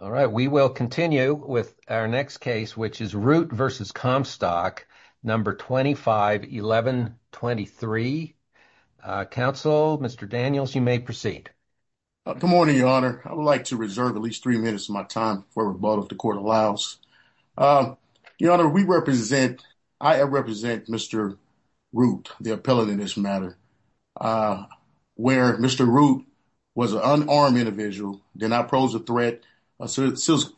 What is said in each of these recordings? All right, we will continue with our next case, which is Root v. Comstock, number 251123. Counsel, Mr. Daniels, you may proceed. Good morning, Your Honor. I would like to reserve at least three minutes of my time for rebuttal, if the court allows. Your Honor, I represent Mr. Root, the appellant in this matter, where Mr. Root was an unarmed individual, did not pose a threat, serious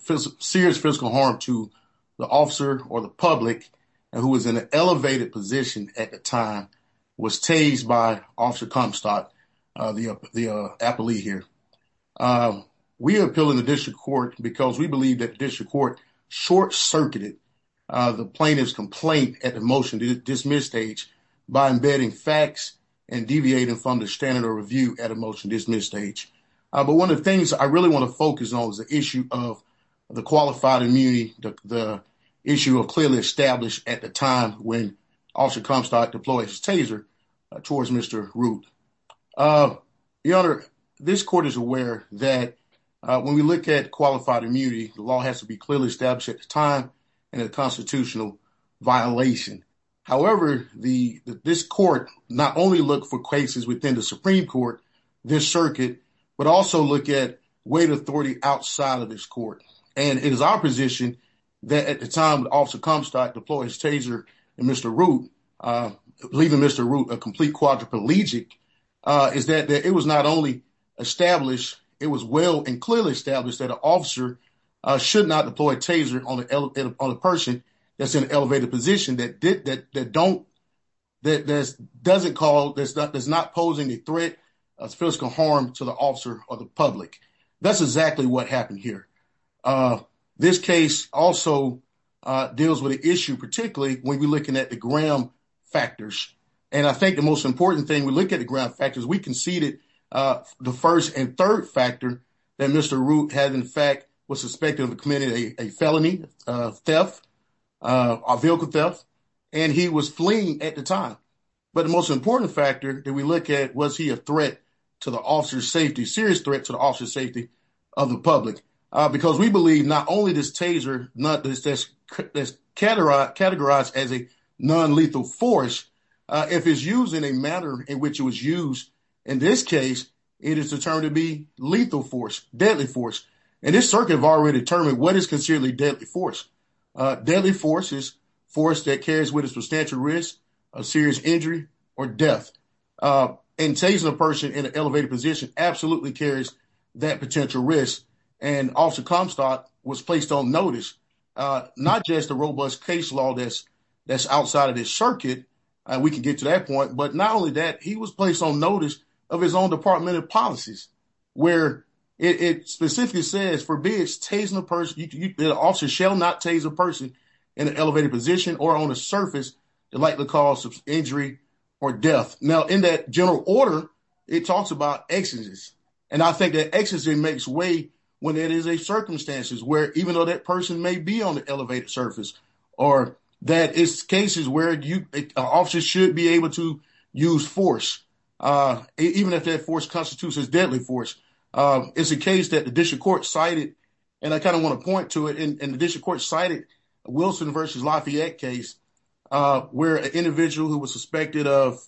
fiscal harm to the officer or the public, and who was in an elevated position at the time, was tased by Officer Comstock, the appellee here. We appeal in the district court because we believe that the district court short-circuited the plaintiff's complaint at the motion to dismiss stage by embedding facts and deviating from the standard of review at a motion to dismiss stage. But one of the things I really want to focus on is the issue of the qualified immunity, the issue of clearly established at the time when Officer Comstock deployed his taser towards Mr. Root. Your Honor, this court is aware that when we look at qualified immunity, the law has to be clearly established at the time in a constitutional violation. However, this court not only look for cases within the Supreme Court, this circuit, but also look at weight authority outside of this court. And it is our position that at the time that Officer Comstock deployed his taser at Mr. Root, leaving Mr. Root a complete quadriplegic, is that it was not only established, it was well and clearly established that an should not deploy a taser on a person that's in an elevated position that doesn't call, that's not posing a threat of physical harm to the officer or the public. That's exactly what happened here. This case also deals with the issue, particularly when we're looking at the ground factors. And I think the most important thing when we look at the ground factors, we conceded the first and third factor that Mr. Root had, in fact, was suspected of committing a felony theft, a vehicle theft, and he was fleeing at the time. But the most important factor that we look at, was he a threat to the officer's safety, serious threat to the officer's safety of the public? Because we believe not only this taser, that's categorized as a non-lethal force, if it's used in a manner in which it was used, in this case, it is determined to be lethal force, deadly force. And this circuit have already determined what is considerably deadly force. Deadly force is force that carries with it substantial risk of serious injury or death. And tasing a person in an elevated position absolutely carries that potential risk. And Officer Comstock was placed on notice, not just a robust case law that's outside of this circuit, and we can get to that point. But not only that, he was placed on notice of his own department of policies, where it specifically says, forbids tasing a person, the officer shall not tase a person in an elevated position or on a surface that likely cause injury or death. Now, in that general order, it talks about excesses. And I think that excesses makes way when it is a circumstances where even though that person may be on the elevated surface, or that is cases where officers should be able to use force, even if that force constitutes as deadly force. It's a case that the district court cited, and I kind of want to point to it in the district cited, Wilson v. Lafayette case, where an individual who was suspected of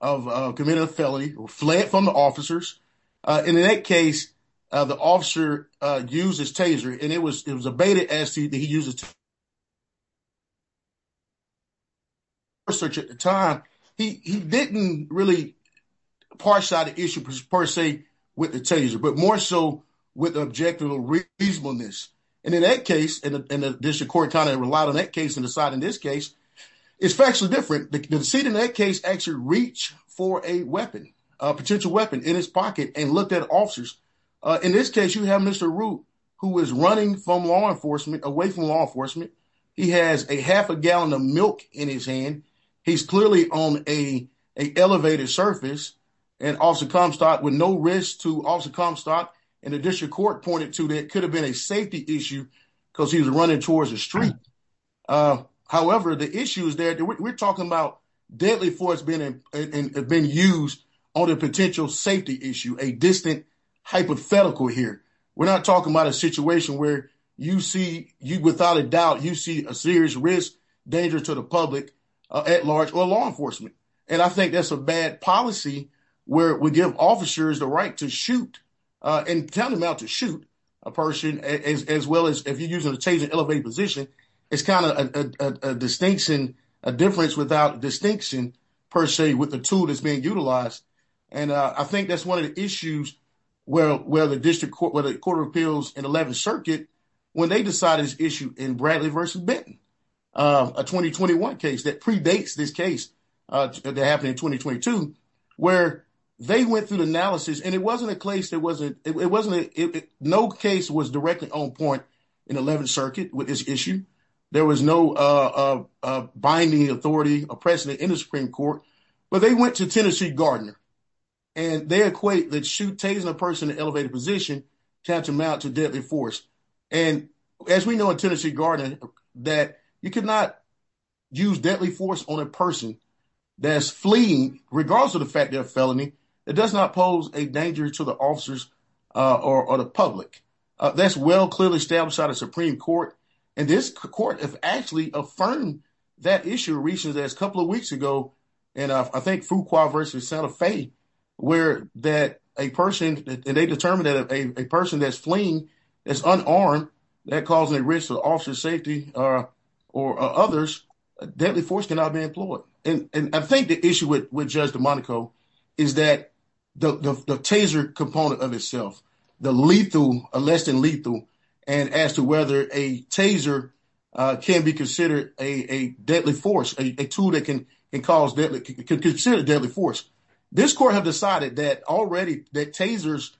committing a felony fled from the officers. In that case, the officer used his taser, and it was a beta ST that he used to search at the time. He didn't really parse out the issue, per se, with the taser, but more so with objective reasonableness. And in that case, and the district court kind of relied on that case to decide in this case, it's factually different. The seat in that case actually reached for a weapon, a potential weapon in his pocket and looked at officers. In this case, you have Mr. Root, who is running from law enforcement, away from law enforcement. He has a half a gallon of milk in his hand. He's clearly on an elevated surface, and Officer Comstock, with no risk to Officer Comstock, and the district court pointed to that it could have been a safety issue because he was running towards the street. However, the issues there, we're talking about deadly force being used on a potential safety issue, a distant hypothetical here. We're not talking about a situation where you see, without a doubt, you see a serious risk, danger to the public, at large, or law enforcement. And I think that's a bad policy where we give officers the right to shoot, and tell them not to shoot a person, as well as if you're using a chasing elevated position, it's kind of a distinction, a difference without distinction, per se, with the tool that's being utilized. And I think that's one of the issues where the district court, where the court of appeals in 11th Circuit, when they decided this issue in Bradley versus Benton, a 2021 case that predates this case that happened in 2022, where they went through the analysis, and it wasn't a case that wasn't, it wasn't, no case was directly on point in 11th Circuit with this issue. There was no binding authority or precedent in the Supreme Court, but they went to Tennessee Gardner, and they equate that shooting a person in an elevated position can amount to deadly force. And as we know in Tennessee Gardner, that you cannot use deadly force on a person that's fleeing, regardless of the fact they're a felony, it does not pose a danger to the officers or the public. That's well, clearly established out of Supreme Court. And this court has actually affirmed that issue recently, that's a couple of weeks ago, and I think Fuqua versus Santa Fe, where that a person, and they determined that a person that's fleeing is unarmed, they're causing a risk to the officer's safety or others, deadly force cannot be employed. And I think the issue with Judge DeMonaco is that the taser component of itself, the lethal, less than lethal, and as to whether a taser can be considered a deadly force, a tool that can cause deadly, can consider deadly force. This court have decided that already that tasers,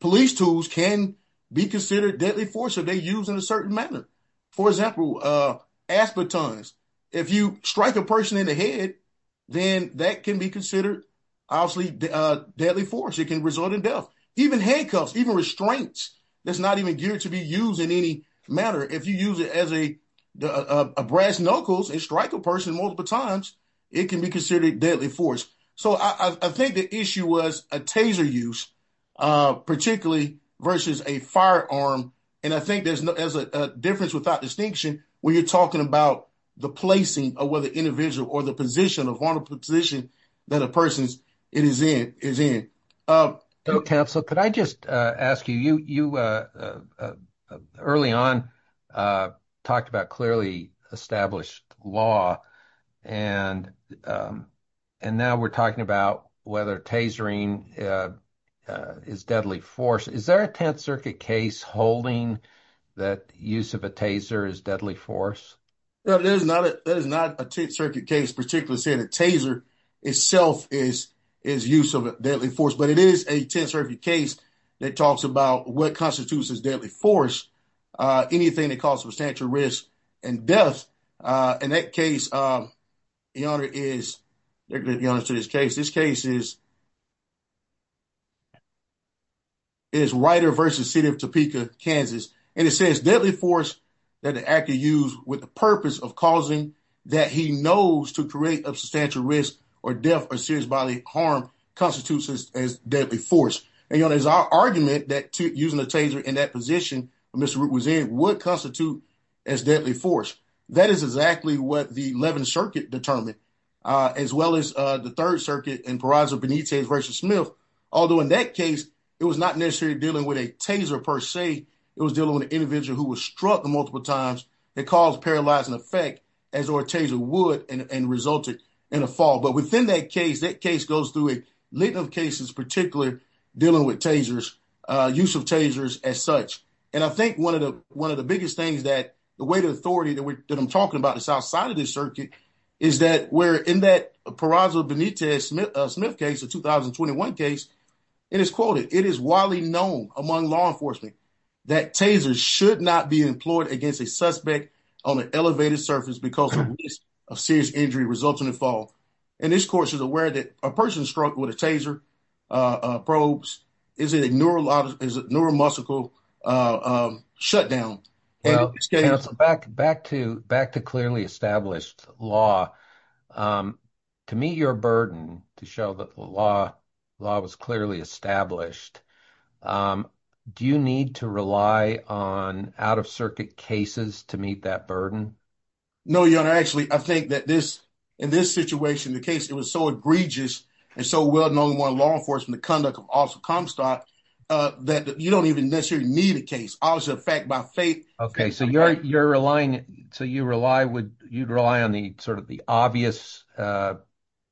police tools can be considered deadly force if they're used in a certain manner. For example, ass batons, if you strike a person in the head, then that can be considered obviously deadly force, it can result in death. Even handcuffs, even restraints, that's not even geared to be used in any manner. If you use it as a brass knuckles and strike a person multiple times, it can be considered deadly force. So I think the issue was a taser use, particularly versus a firearm, and I think there's a difference without distinction when you're talking about the placing of whether individual or the position, a vulnerable position, that a person is in. So counsel, could I just ask you, you early on talked about clearly established law, and now we're talking about whether tasering is deadly force. Is there a Tenth Circuit case holding that use of a taser is deadly force? No, there is not a Tenth Circuit case particularly saying a taser itself is use of deadly force, but it is a Tenth Circuit case that talks about what constitutes as deadly force, anything that causes substantial risk and death. In that case, the honor is, the honors to this case, this case is Rider versus City of Topeka, Kansas. And it says deadly force that the actor used with the purpose of causing that he knows to create a substantial risk or death or serious bodily harm constitutes as deadly force. And as our argument that using a taser in that position, Mr. Root was in, would constitute as deadly force. That is exactly what the Eleventh Circuit determined, as well as the Third Circuit and Peraza Benitez versus Smith. Although in that case, it was not necessarily dealing with a taser per se, it was dealing with an individual who was multiple times that caused paralyzing effect as a taser would and resulted in a fall. But within that case, that case goes through a litany of cases, particularly dealing with tasers, use of tasers as such. And I think one of the biggest things that the weight of authority that I'm talking about is outside of this circuit is that we're in that Peraza Benitez Smith case, the 2021 case, and it's quoted, it is widely known among law enforcement that tasers should not be employed against a suspect on an elevated surface because the risk of serious injury results in a fall. And this court is aware that a person struck with a taser, probes, is a neuromuscular shutdown. Back to clearly established law. To meet your burden, to show the law was clearly established. Do you need to rely on out-of-circuit cases to meet that burden? No, Your Honor. Actually, I think that in this situation, the case, it was so egregious and so well-known among law enforcement, the conduct of Officer Comstock, that you don't even necessarily need a case. Obviously, the fact by faith... So you rely on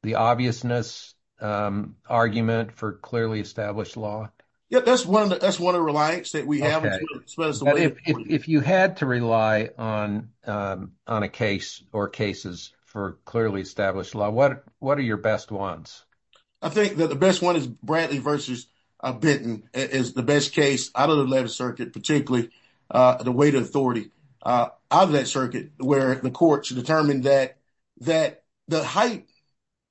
the obviousness argument for clearly established law? Yeah, that's one of the reliance that we have. If you had to rely on a case or cases for clearly established law, what are your best ones? I think that the best one is Brantley v. Benton is the best case out of the 11th Circuit, particularly the weight authority out of that circuit, where the courts determined that the height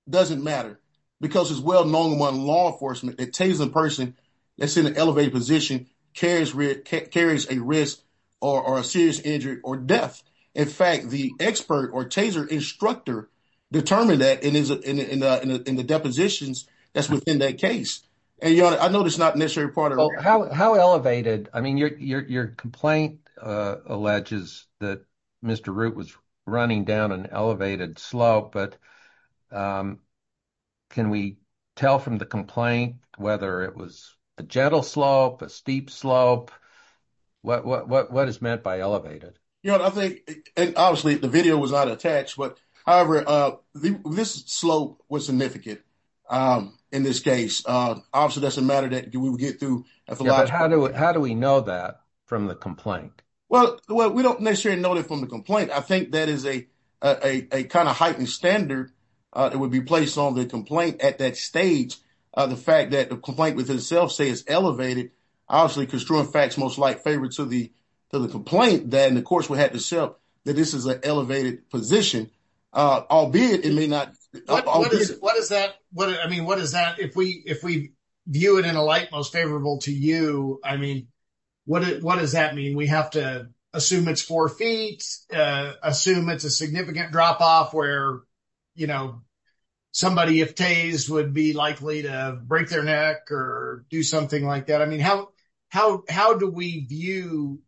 doesn't matter because it's well-known among law enforcement that a taser person that's in an elevated position carries a risk or a serious injury or death. In fact, the expert or taser instructor determined that in the depositions that's within that case. And Your Honor, I know it's not necessarily part of... How elevated? I mean, your complaint alleges that Mr. Root was running down an elevated slope, but can we tell from the complaint whether it was a gentle slope, a steep slope? What is meant by elevated? Your Honor, I think, and obviously the video was not attached, but however, this slope was significant in this case. Obviously, it doesn't matter that we would get through. How do we know that from the complaint? Well, we don't necessarily know it from the complaint. I think that is a kind of heightened standard that would be placed on the complaint at that stage. The fact that the complaint with itself says elevated, obviously, construing facts most like favor to the complaint, then the courts would have to show that this is an elevated position, albeit it may not... I mean, what does that... If we view it in a light most favorable to you, I mean, what does that mean? We have to assume it's four feet, assume it's a significant drop-off where somebody, if tased, would be likely to break their neck or do something like that? How do we view,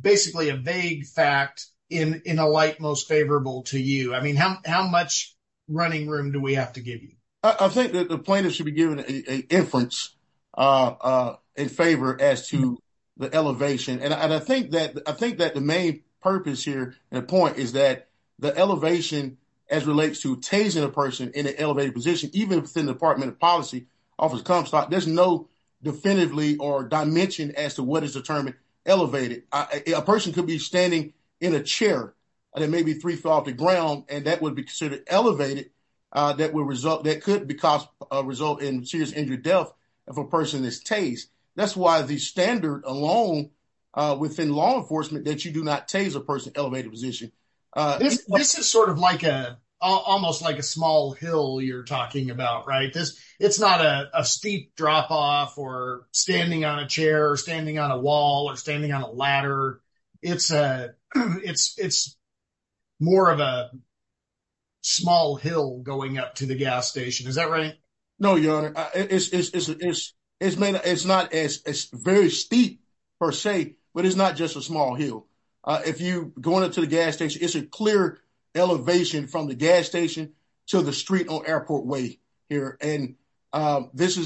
basically, a vague fact in a light most favorable to you? I mean, how much running room do we have to give you? I think that the plaintiff should be given an inference in favor as to the elevation. I think that the main purpose here and point is that the elevation as relates to tasing a person in an elevated position, even if it's in the Department of Policy, Office of Comstock, there's no definitively or dimension as to what is determined elevated. A person could be standing in a chair, and there may be three feet off the ground, and that would be considered elevated that could result in serious injury or death if a person is tased. That's why the standard alone within law enforcement that you do not tase a person elevated position. This is sort of almost like a small hill you're talking about, right? It's not a steep drop-off or standing on a chair or standing on a wall or standing on a ladder. It's more of a small hill going up to the gas station. Is that right? No, Your Honor. It's very steep per se, but it's not just a small hill. If you're going to the gas station, it's a clear elevation from the gas station to the street or airport way here. I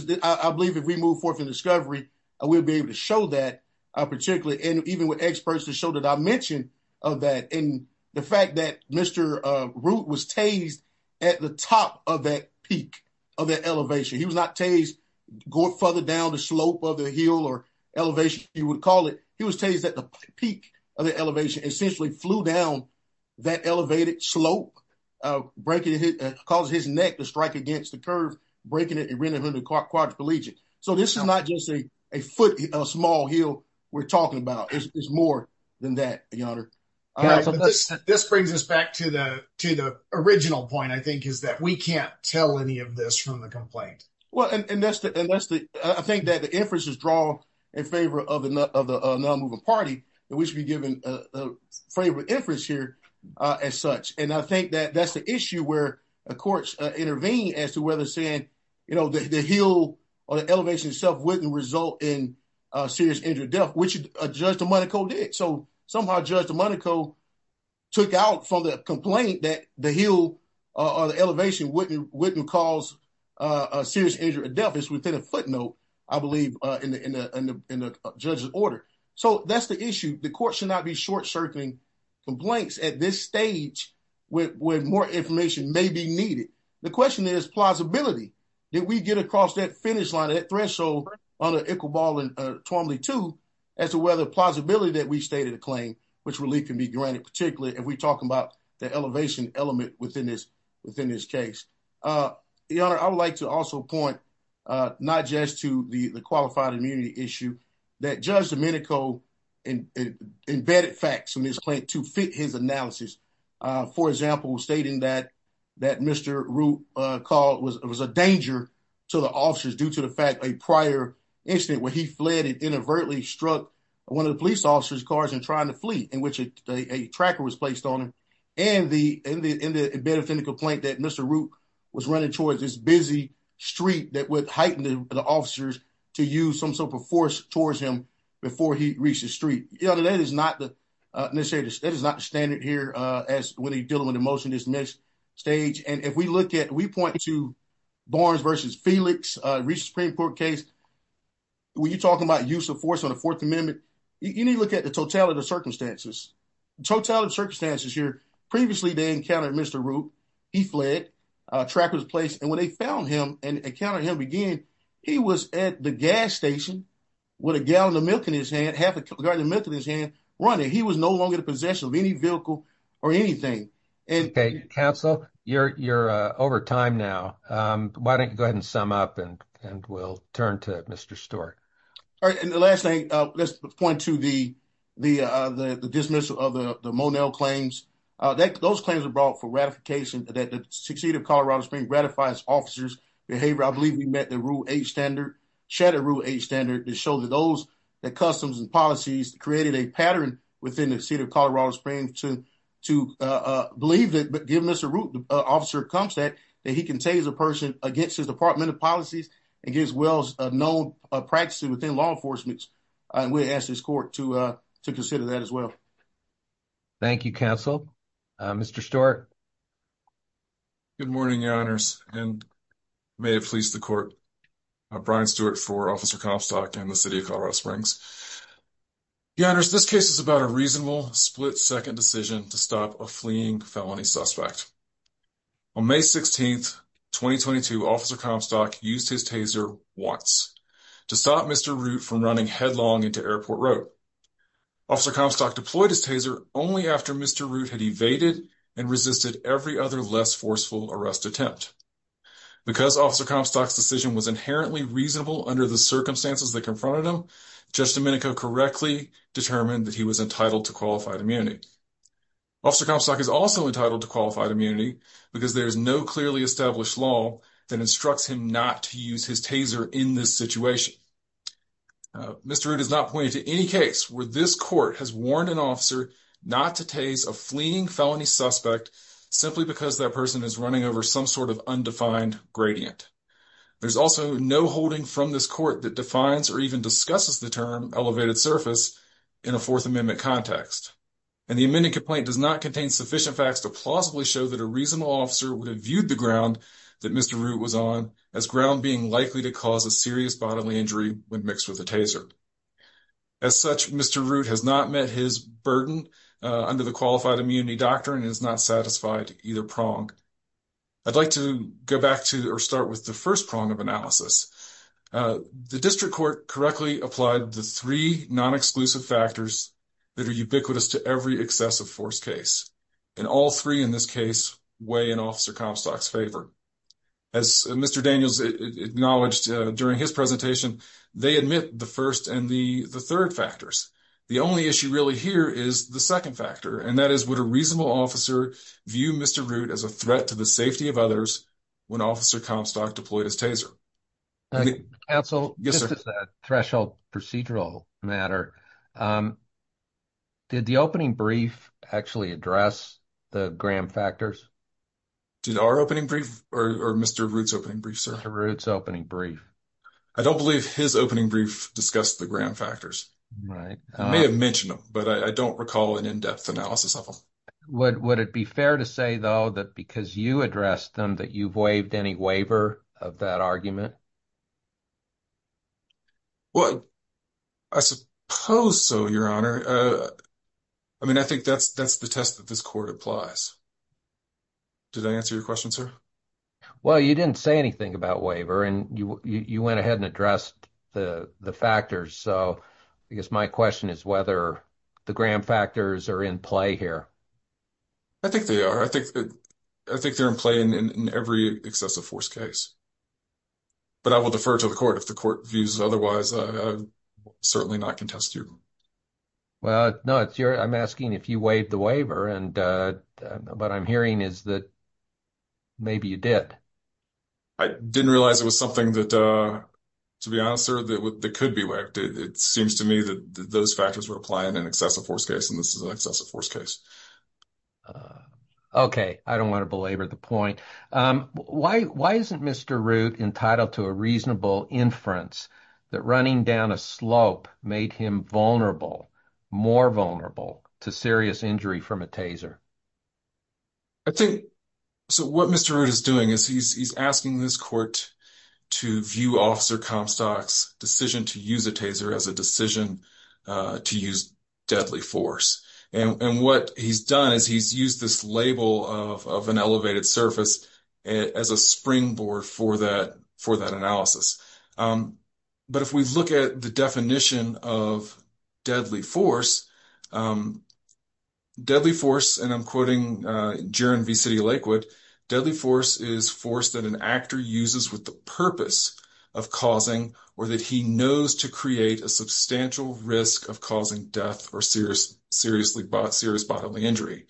believe if we move forth in discovery, we'll be able to show that, particularly, and even with experts to show the dimension of that. The fact that Mr. Root was tased at the top of that peak of that elevation, he was not tased going further down the slope of the hill or elevation, you would call it. He was tased at the peak of the elevation and essentially flew down that elevated slope, causing his neck to strike against the curve, breaking it and rendering him quadriplegic. So this is not just a small hill we're talking about. It's more than that, Your Honor. This brings us back to the original point, I think, is that we can't tell any of this from the complaint. I think that the inference is drawn in favor of the non-moving party. We should be given a favorable inference here as such. And I think that that's the issue where the courts intervene as to whether saying the hill or the elevation itself wouldn't result in serious injury or death, which Judge Domenico did. So somehow Judge Domenico took out from the complaint that the hill or the elevation wouldn't cause a serious injury or death. It's within a footnote, I believe, in the judge's order. So that's the issue. The court should not be short-circuiting complaints at this stage when more information may be needed. The question is plausibility. Did we get across that finish line, that threshold under Iqbal and Twombly too, as to whether the plausibility that we stated a claim, which really can be granted, particularly if we're talking about the elevation element within this case? Your Honor, I would like to also point, not just to the qualified immunity issue, that Judge Domenico embedded facts in his claim to fit his analysis. For example, stating that Mr. Root was a danger to the officers due to the fact a prior incident where he fled and inadvertently struck one of the police officers' cars and tried to flee, in which a tracker was placed on him, and the benefit of the complaint that Mr. Root was running towards this busy street that would heighten the officers to use some sort of force towards him before he reached the street. Your Honor, that is not the standard here as when you're dealing with emotion at this next stage. And if we look at, we point to Barnes v. Felix, a recent Supreme Court case, when you're talking about use of force on the Fourth Amendment, you need to look at the totality of circumstances. The totality of circumstances here, previously they encountered Mr. Root, he fled, a tracker was placed, and when they found him and encountered him again, he was at the gas station with a gallon of milk in his hand, half a gallon of milk in his hand, running. He was no longer in possession of any vehicle or anything. Okay, counsel, you're over time now. Why don't you go ahead and sum up, and we'll turn to Mr. Stewart. All right, and the last thing, let's point to the dismissal of the Monel claims. Those claims are brought for ratification that the seat of Colorado Springs ratifies officers' behavior. I believe we met the Rule 8 standard, shared a Rule 8 standard that showed that those, the customs and policies created a pattern within the seat of Colorado Springs to believe that, given Mr. Root, the officer comes that, that he contains a person against his department of policies and gives well-known practices within law enforcement, and we ask this court to consider that as well. Thank you, counsel. Mr. Stewart. Good morning, your honors, and may it please the court, Brian Stewart for Officer Comstock and the city of Colorado Springs. Your honors, this case is about a reasonable split-second decision to stop a fleeing felony suspect. On May 16, 2022, Officer Comstock used his taser once to stop Mr. Root from running headlong into Airport Road. Officer Comstock deployed his taser only after Mr. Root had evaded and resisted every other less forceful arrest attempt. Because Officer Comstock's decision was inherently reasonable under the circumstances that confronted him, Judge Domenico correctly determined that he was entitled to qualified immunity. Officer Comstock is also entitled to qualified immunity because there is no clearly established law that instructs him not to use his taser in this situation. Mr. Root has not pointed to any case where this court has warned an officer not to tase a fleeing felony suspect simply because that person is running over some sort of undefined gradient. There's also no holding from this court that defines or even discusses the term elevated surface in a Fourth Amendment context, and the pending complaint does not contain sufficient facts to plausibly show that a reasonable officer would have viewed the ground that Mr. Root was on as ground being likely to cause a serious bodily injury when mixed with a taser. As such, Mr. Root has not met his burden under the qualified immunity doctrine and is not satisfied either prong. I'd like to go back to or start with the first prong of analysis. The district court correctly applied the three non-exclusive factors that are ubiquitous to every excessive force case, and all three in this case weigh in Officer Comstock's favor. As Mr. Daniels acknowledged during his presentation, they admit the first and the third factors. The only issue really here is the second factor, and that is would a reasonable officer view Mr. Root as a threat to the safety of others when Officer Comstock deployed his taser? Counsel, this is a threshold procedural matter. Did the opening brief actually address the Graham factors? Did our opening brief or Mr. Root's opening brief, sir? Mr. Root's opening brief. I don't believe his opening brief discussed the Graham factors. Right. I may have mentioned them, but I don't recall an in-depth analysis of them. Would it be fair to say, though, that because you addressed them that you've waived any waiver of that argument? Well, I suppose so, Your Honor. I mean, I think that's the test that this court applies. Did I answer your question, sir? Well, you didn't say anything about waiver, and you went ahead and addressed the factors, so I guess my question is whether the Graham factors are in play here. I think they are. I think they're in play in every excessive force case, but I will defer to the court. If the court views otherwise, certainly not contest you. Well, no, I'm asking if you waived the waiver, but I'm hearing is that maybe you did. I didn't realize it was something that, to be honest, that could be waived. It seems to me that those factors were applying in an excessive force case, and this is an excessive force case. Okay. I don't want to belabor the point. Why isn't Mr. Root entitled to a reasonable inference that running down a slope made him vulnerable, more vulnerable to serious injury from a taser? So what Mr. Root is doing is he's asking this court to view Officer Comstock's decision to use a taser as a decision to use deadly force, and what he's done is he's used this label of an elevated surface as a springboard for that analysis. But if we look at the definition of deadly force, deadly force, and I'm quoting Jaron Lakewood, deadly force is force that an actor uses with the purpose of causing or that he knows to create a substantial risk of causing death or serious bodily injury.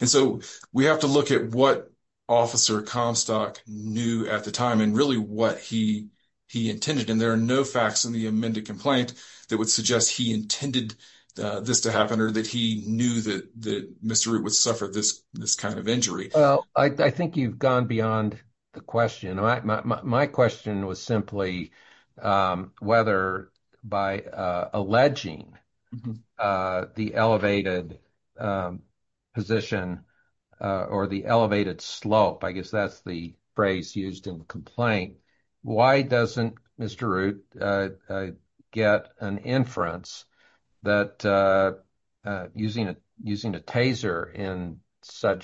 And so we have to look at what Officer Comstock knew at the time and really what he intended, and there are no facts in the amended complaint that would suggest he intended this to happen or that he knew that Mr. Root would suffer this kind of injury. Well, I think you've gone beyond the question. My question was simply whether by alleging the elevated position or the elevated slope, I guess that's the phrase in such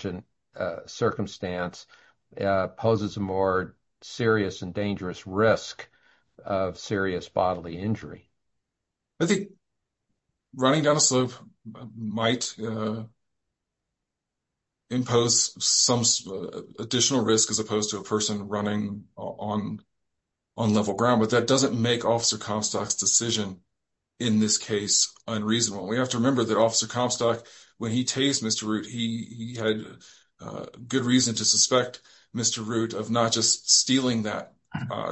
a circumstance poses a more serious and dangerous risk of serious bodily injury. I think running down a slope might impose some additional risk as opposed to a person running on level ground, but that doesn't make Officer Comstock's decision in this case unreasonable. We have to remember that Officer Comstock, when he tased Mr. Root, he had good reason to suspect Mr. Root of not just stealing that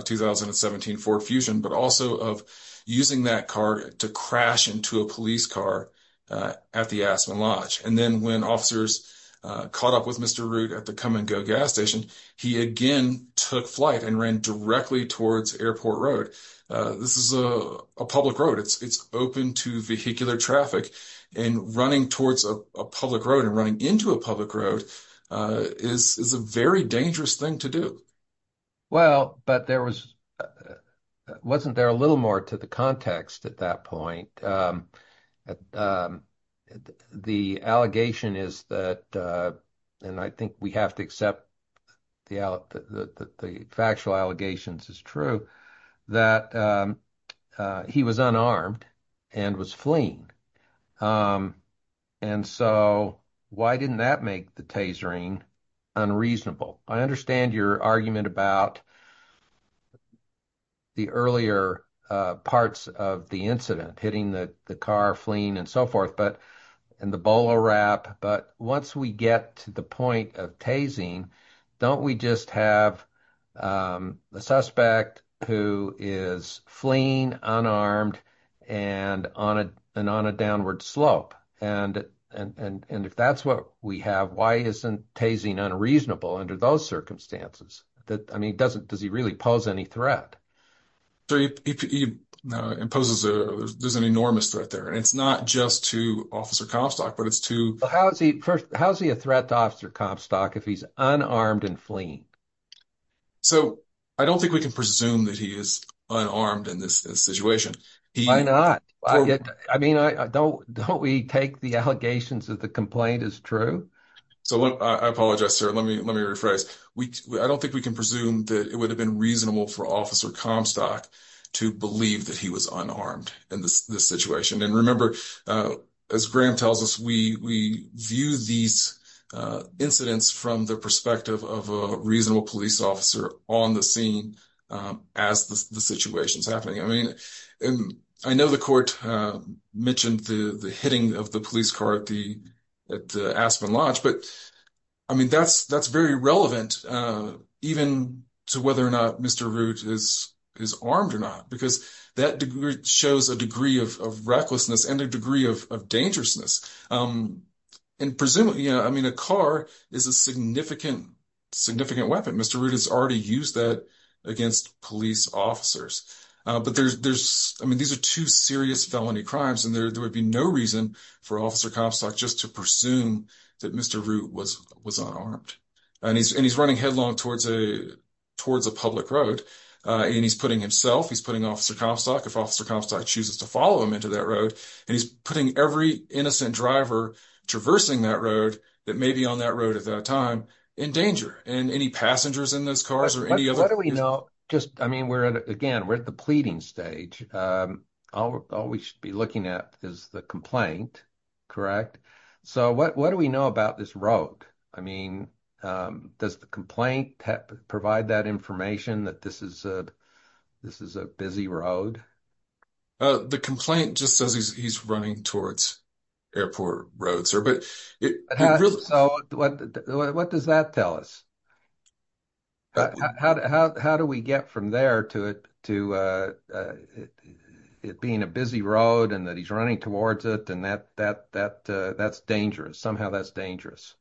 2017 Ford Fusion, but also of using that car to crash into a police car at the Aspen Lodge. And then when officers caught up with Mr. Root at the Come and Go gas station, he again took flight and ran directly towards Airport Road. This is a public road. It's open to vehicular traffic, and running towards a public road and running into a public road is a very dangerous thing to do. Well, but wasn't there a little more to the context at that point? The allegation is that, and I think we have to accept the factual allegations as true, that he was unarmed and was fleeing. And so why didn't that make the tasering unreasonable? I understand your argument about the earlier parts of the incident, hitting the car, fleeing, and so forth, and the bolo wrap. But once we get to the point of tasing, don't we just have a suspect who is fleeing, unarmed, and on a downward slope? And if that's what we have, why isn't tasing unreasonable under those circumstances? I mean, does he really pose any threat? There's an enormous threat there. And it's not just to Officer Comstock, but it's to- How is he a threat to Officer Comstock if he's unarmed and fleeing? So I don't think we can presume that he is unarmed in this situation. Why not? I mean, don't we take the allegations that the complaint is true? So I apologize, sir. Let me rephrase. I don't think we can presume that it would have been reasonable for Officer Comstock to believe that he was unarmed in this situation. And remember, as Graham tells us, we view these incidents from the perspective of a reasonable police officer on the scene as the situation is happening. I mean, I know the court mentioned the hitting of the police car at the Aspen Lodge, but I mean, that's very relevant even to whether or not Mr. Root is armed or not, because that shows a degree of recklessness and a degree of dangerousness. And presumably, I mean, a car is a significant weapon. Mr. Root has already used that against police officers. But there's- I mean, these are two serious felony crimes, and there would be no reason for Officer Comstock just to presume that Mr. Root was unarmed. And he's running headlong towards a public road, and he's putting himself, he's putting Officer Comstock, if Officer Comstock chooses to follow him into that road, and he's putting every innocent driver traversing that road that may be on that road at that time in danger. And any passengers in those cars or any other- What do we know? I mean, again, we're at the pleading stage. All we should be looking at is the complaint, correct? So what do we know about this road? I mean, does the complaint provide that information that this is a busy road? The complaint just says he's running towards airport roads, sir, but it really- So what does that tell us? How do we get from there to it being a busy road and that he's just-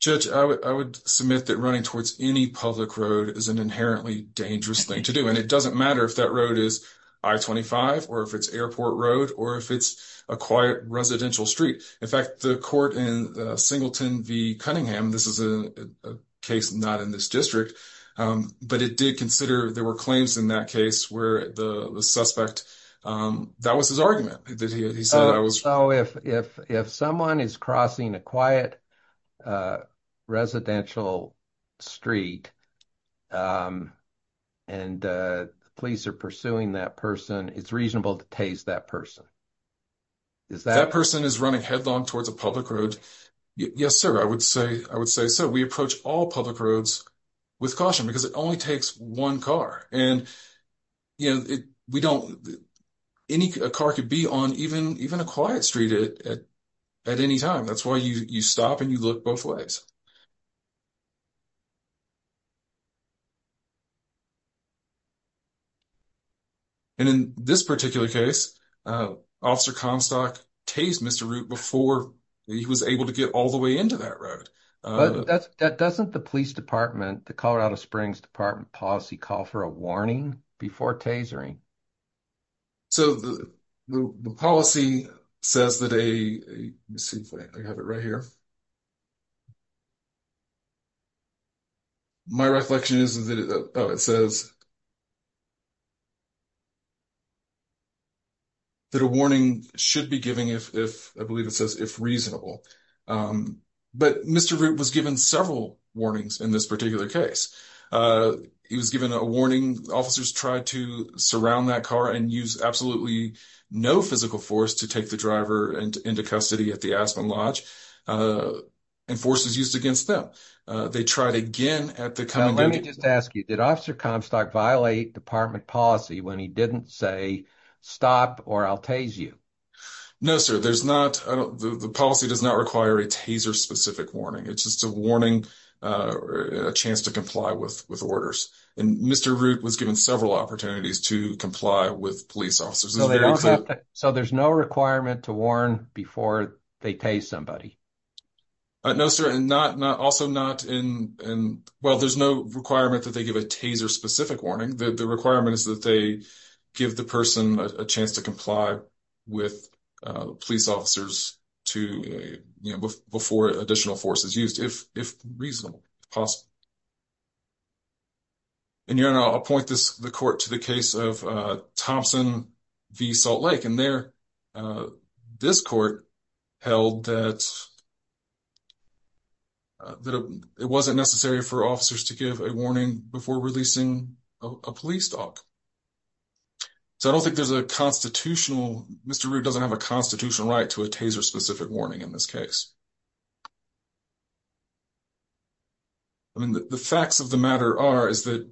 Judge, I would submit that running towards any public road is an inherently dangerous thing to do. And it doesn't matter if that road is I-25 or if it's airport road or if it's a quiet residential street. In fact, the court in Singleton v. Cunningham, this is a case not in this district, but it did consider there were claims in that case where the suspect, that was his argument. He said I was- So if someone is crossing a quiet residential street and the police are pursuing that person, it's reasonable to tase that person. Is that- That person is running headlong towards a public road. Yes, sir. I would say so. We all public roads with caution because it only takes one car. And we don't- Any car could be on even a quiet street at any time. That's why you stop and you look both ways. And in this particular case, Officer Comstock tased Mr. Root before he was able to get all into that road. But doesn't the police department, the Colorado Springs Department policy call for a warning before tasering? So the policy says that a- Let me see if I have it right here. My reflection is that it says that a warning should be given if, I believe it says, if reasonable. But Mr. Root was given several warnings in this particular case. He was given a warning. Officers tried to surround that car and use absolutely no physical force to take the driver into custody at the Aspen Lodge and forces used against them. They tried again at the- Now, let me just ask you, Officer Comstock violate department policy when he didn't say stop or I'll tase you? No, sir. There's not- The policy does not require a taser specific warning. It's just a warning or a chance to comply with orders. And Mr. Root was given several opportunities to comply with police officers. So they don't have to- So there's no requirement to warn before they tase somebody? No, sir. And not- Also not in- Well, there's no requirement that they give a taser specific warning. The requirement is that they give the person a chance to comply with police officers to- before additional force is used, if reasonable, possible. And, your Honor, I'll point this- the court to the case of Thompson v. Salt Lake. And there, this court held that it wasn't necessary for officers to give a warning before releasing a police dog. So I don't think there's a constitutional- Mr. Root doesn't have a constitutional right to a taser specific warning in this case. I mean, the facts of the matter are, is that,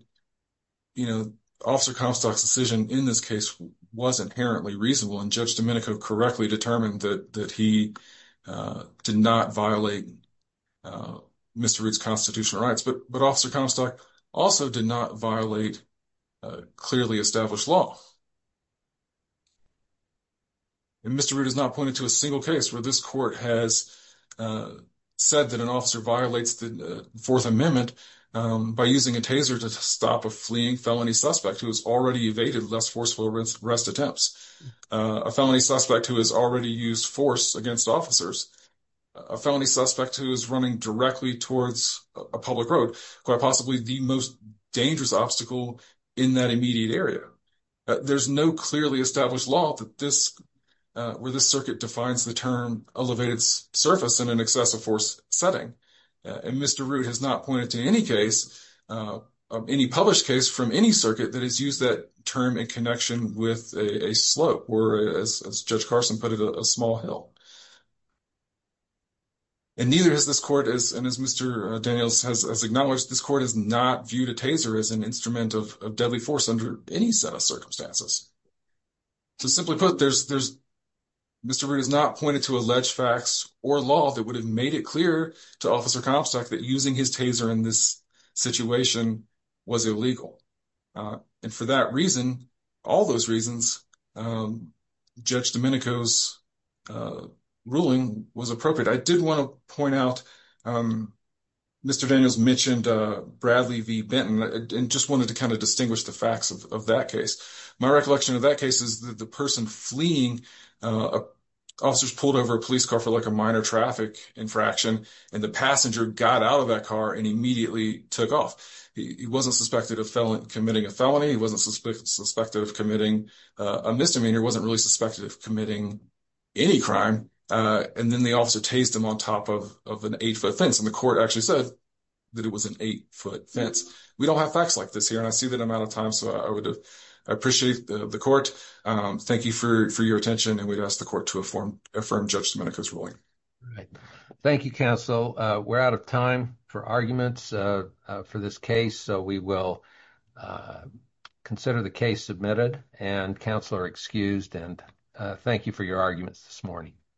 you know, Officer Comstock's decision in this case was inherently reasonable. And Judge Domenico correctly determined that he did not violate Mr. Root's constitutional rights. But Officer Comstock also did not violate clearly established law. And Mr. Root has not pointed to a single case where this court has said that an officer violates the Fourth Amendment by using a taser to stop a fleeing felony suspect who has already evaded less forceful arrest attempts, a felony suspect who has already used force against officers, a felony suspect who is running directly towards a public road, quite possibly the most dangerous obstacle in that immediate area. There's no clearly established law that this- where this circuit defines the term elevated surface in an excessive force setting. And Mr. Root has not pointed to any case, any published case from any circuit that has used that term in connection with a slope, or as Judge Carson put it, a small hill. And neither has this court, and as Mr. Daniels has acknowledged, this court has not viewed a taser as an instrument of deadly force under any set of circumstances. So, simply put, there's- Mr. Root has not pointed to alleged facts or law that would have made it clear to Officer Comstock that using his taser in this situation was illegal. And for that reason, all those reasons, um, Judge Domenico's, uh, ruling was appropriate. I did want to point out, um, Mr. Daniels mentioned, uh, Bradley v. Benton and just wanted to kind of distinguish the facts of that case. My recollection of that case is that the person fleeing, uh, officers pulled over a police car for like a minor traffic infraction and the passenger got out of that car and immediately took off. He wasn't suspected of committing a felony. He wasn't suspected of committing a misdemeanor. He wasn't really suspected of committing any crime. Uh, and then the officer tased him on top of an eight-foot fence, and the court actually said that it was an eight-foot fence. We don't have facts like this here, and I see that I'm out of time, so I would appreciate the court, um, thank you for your attention, and we'd ask the court to affirm Judge Domenico's ruling. All right. Thank you, counsel. We're out of time for arguments, uh, for this case, so we will, uh, consider the case submitted, and counsel are excused, and, uh, thank you for your arguments this morning.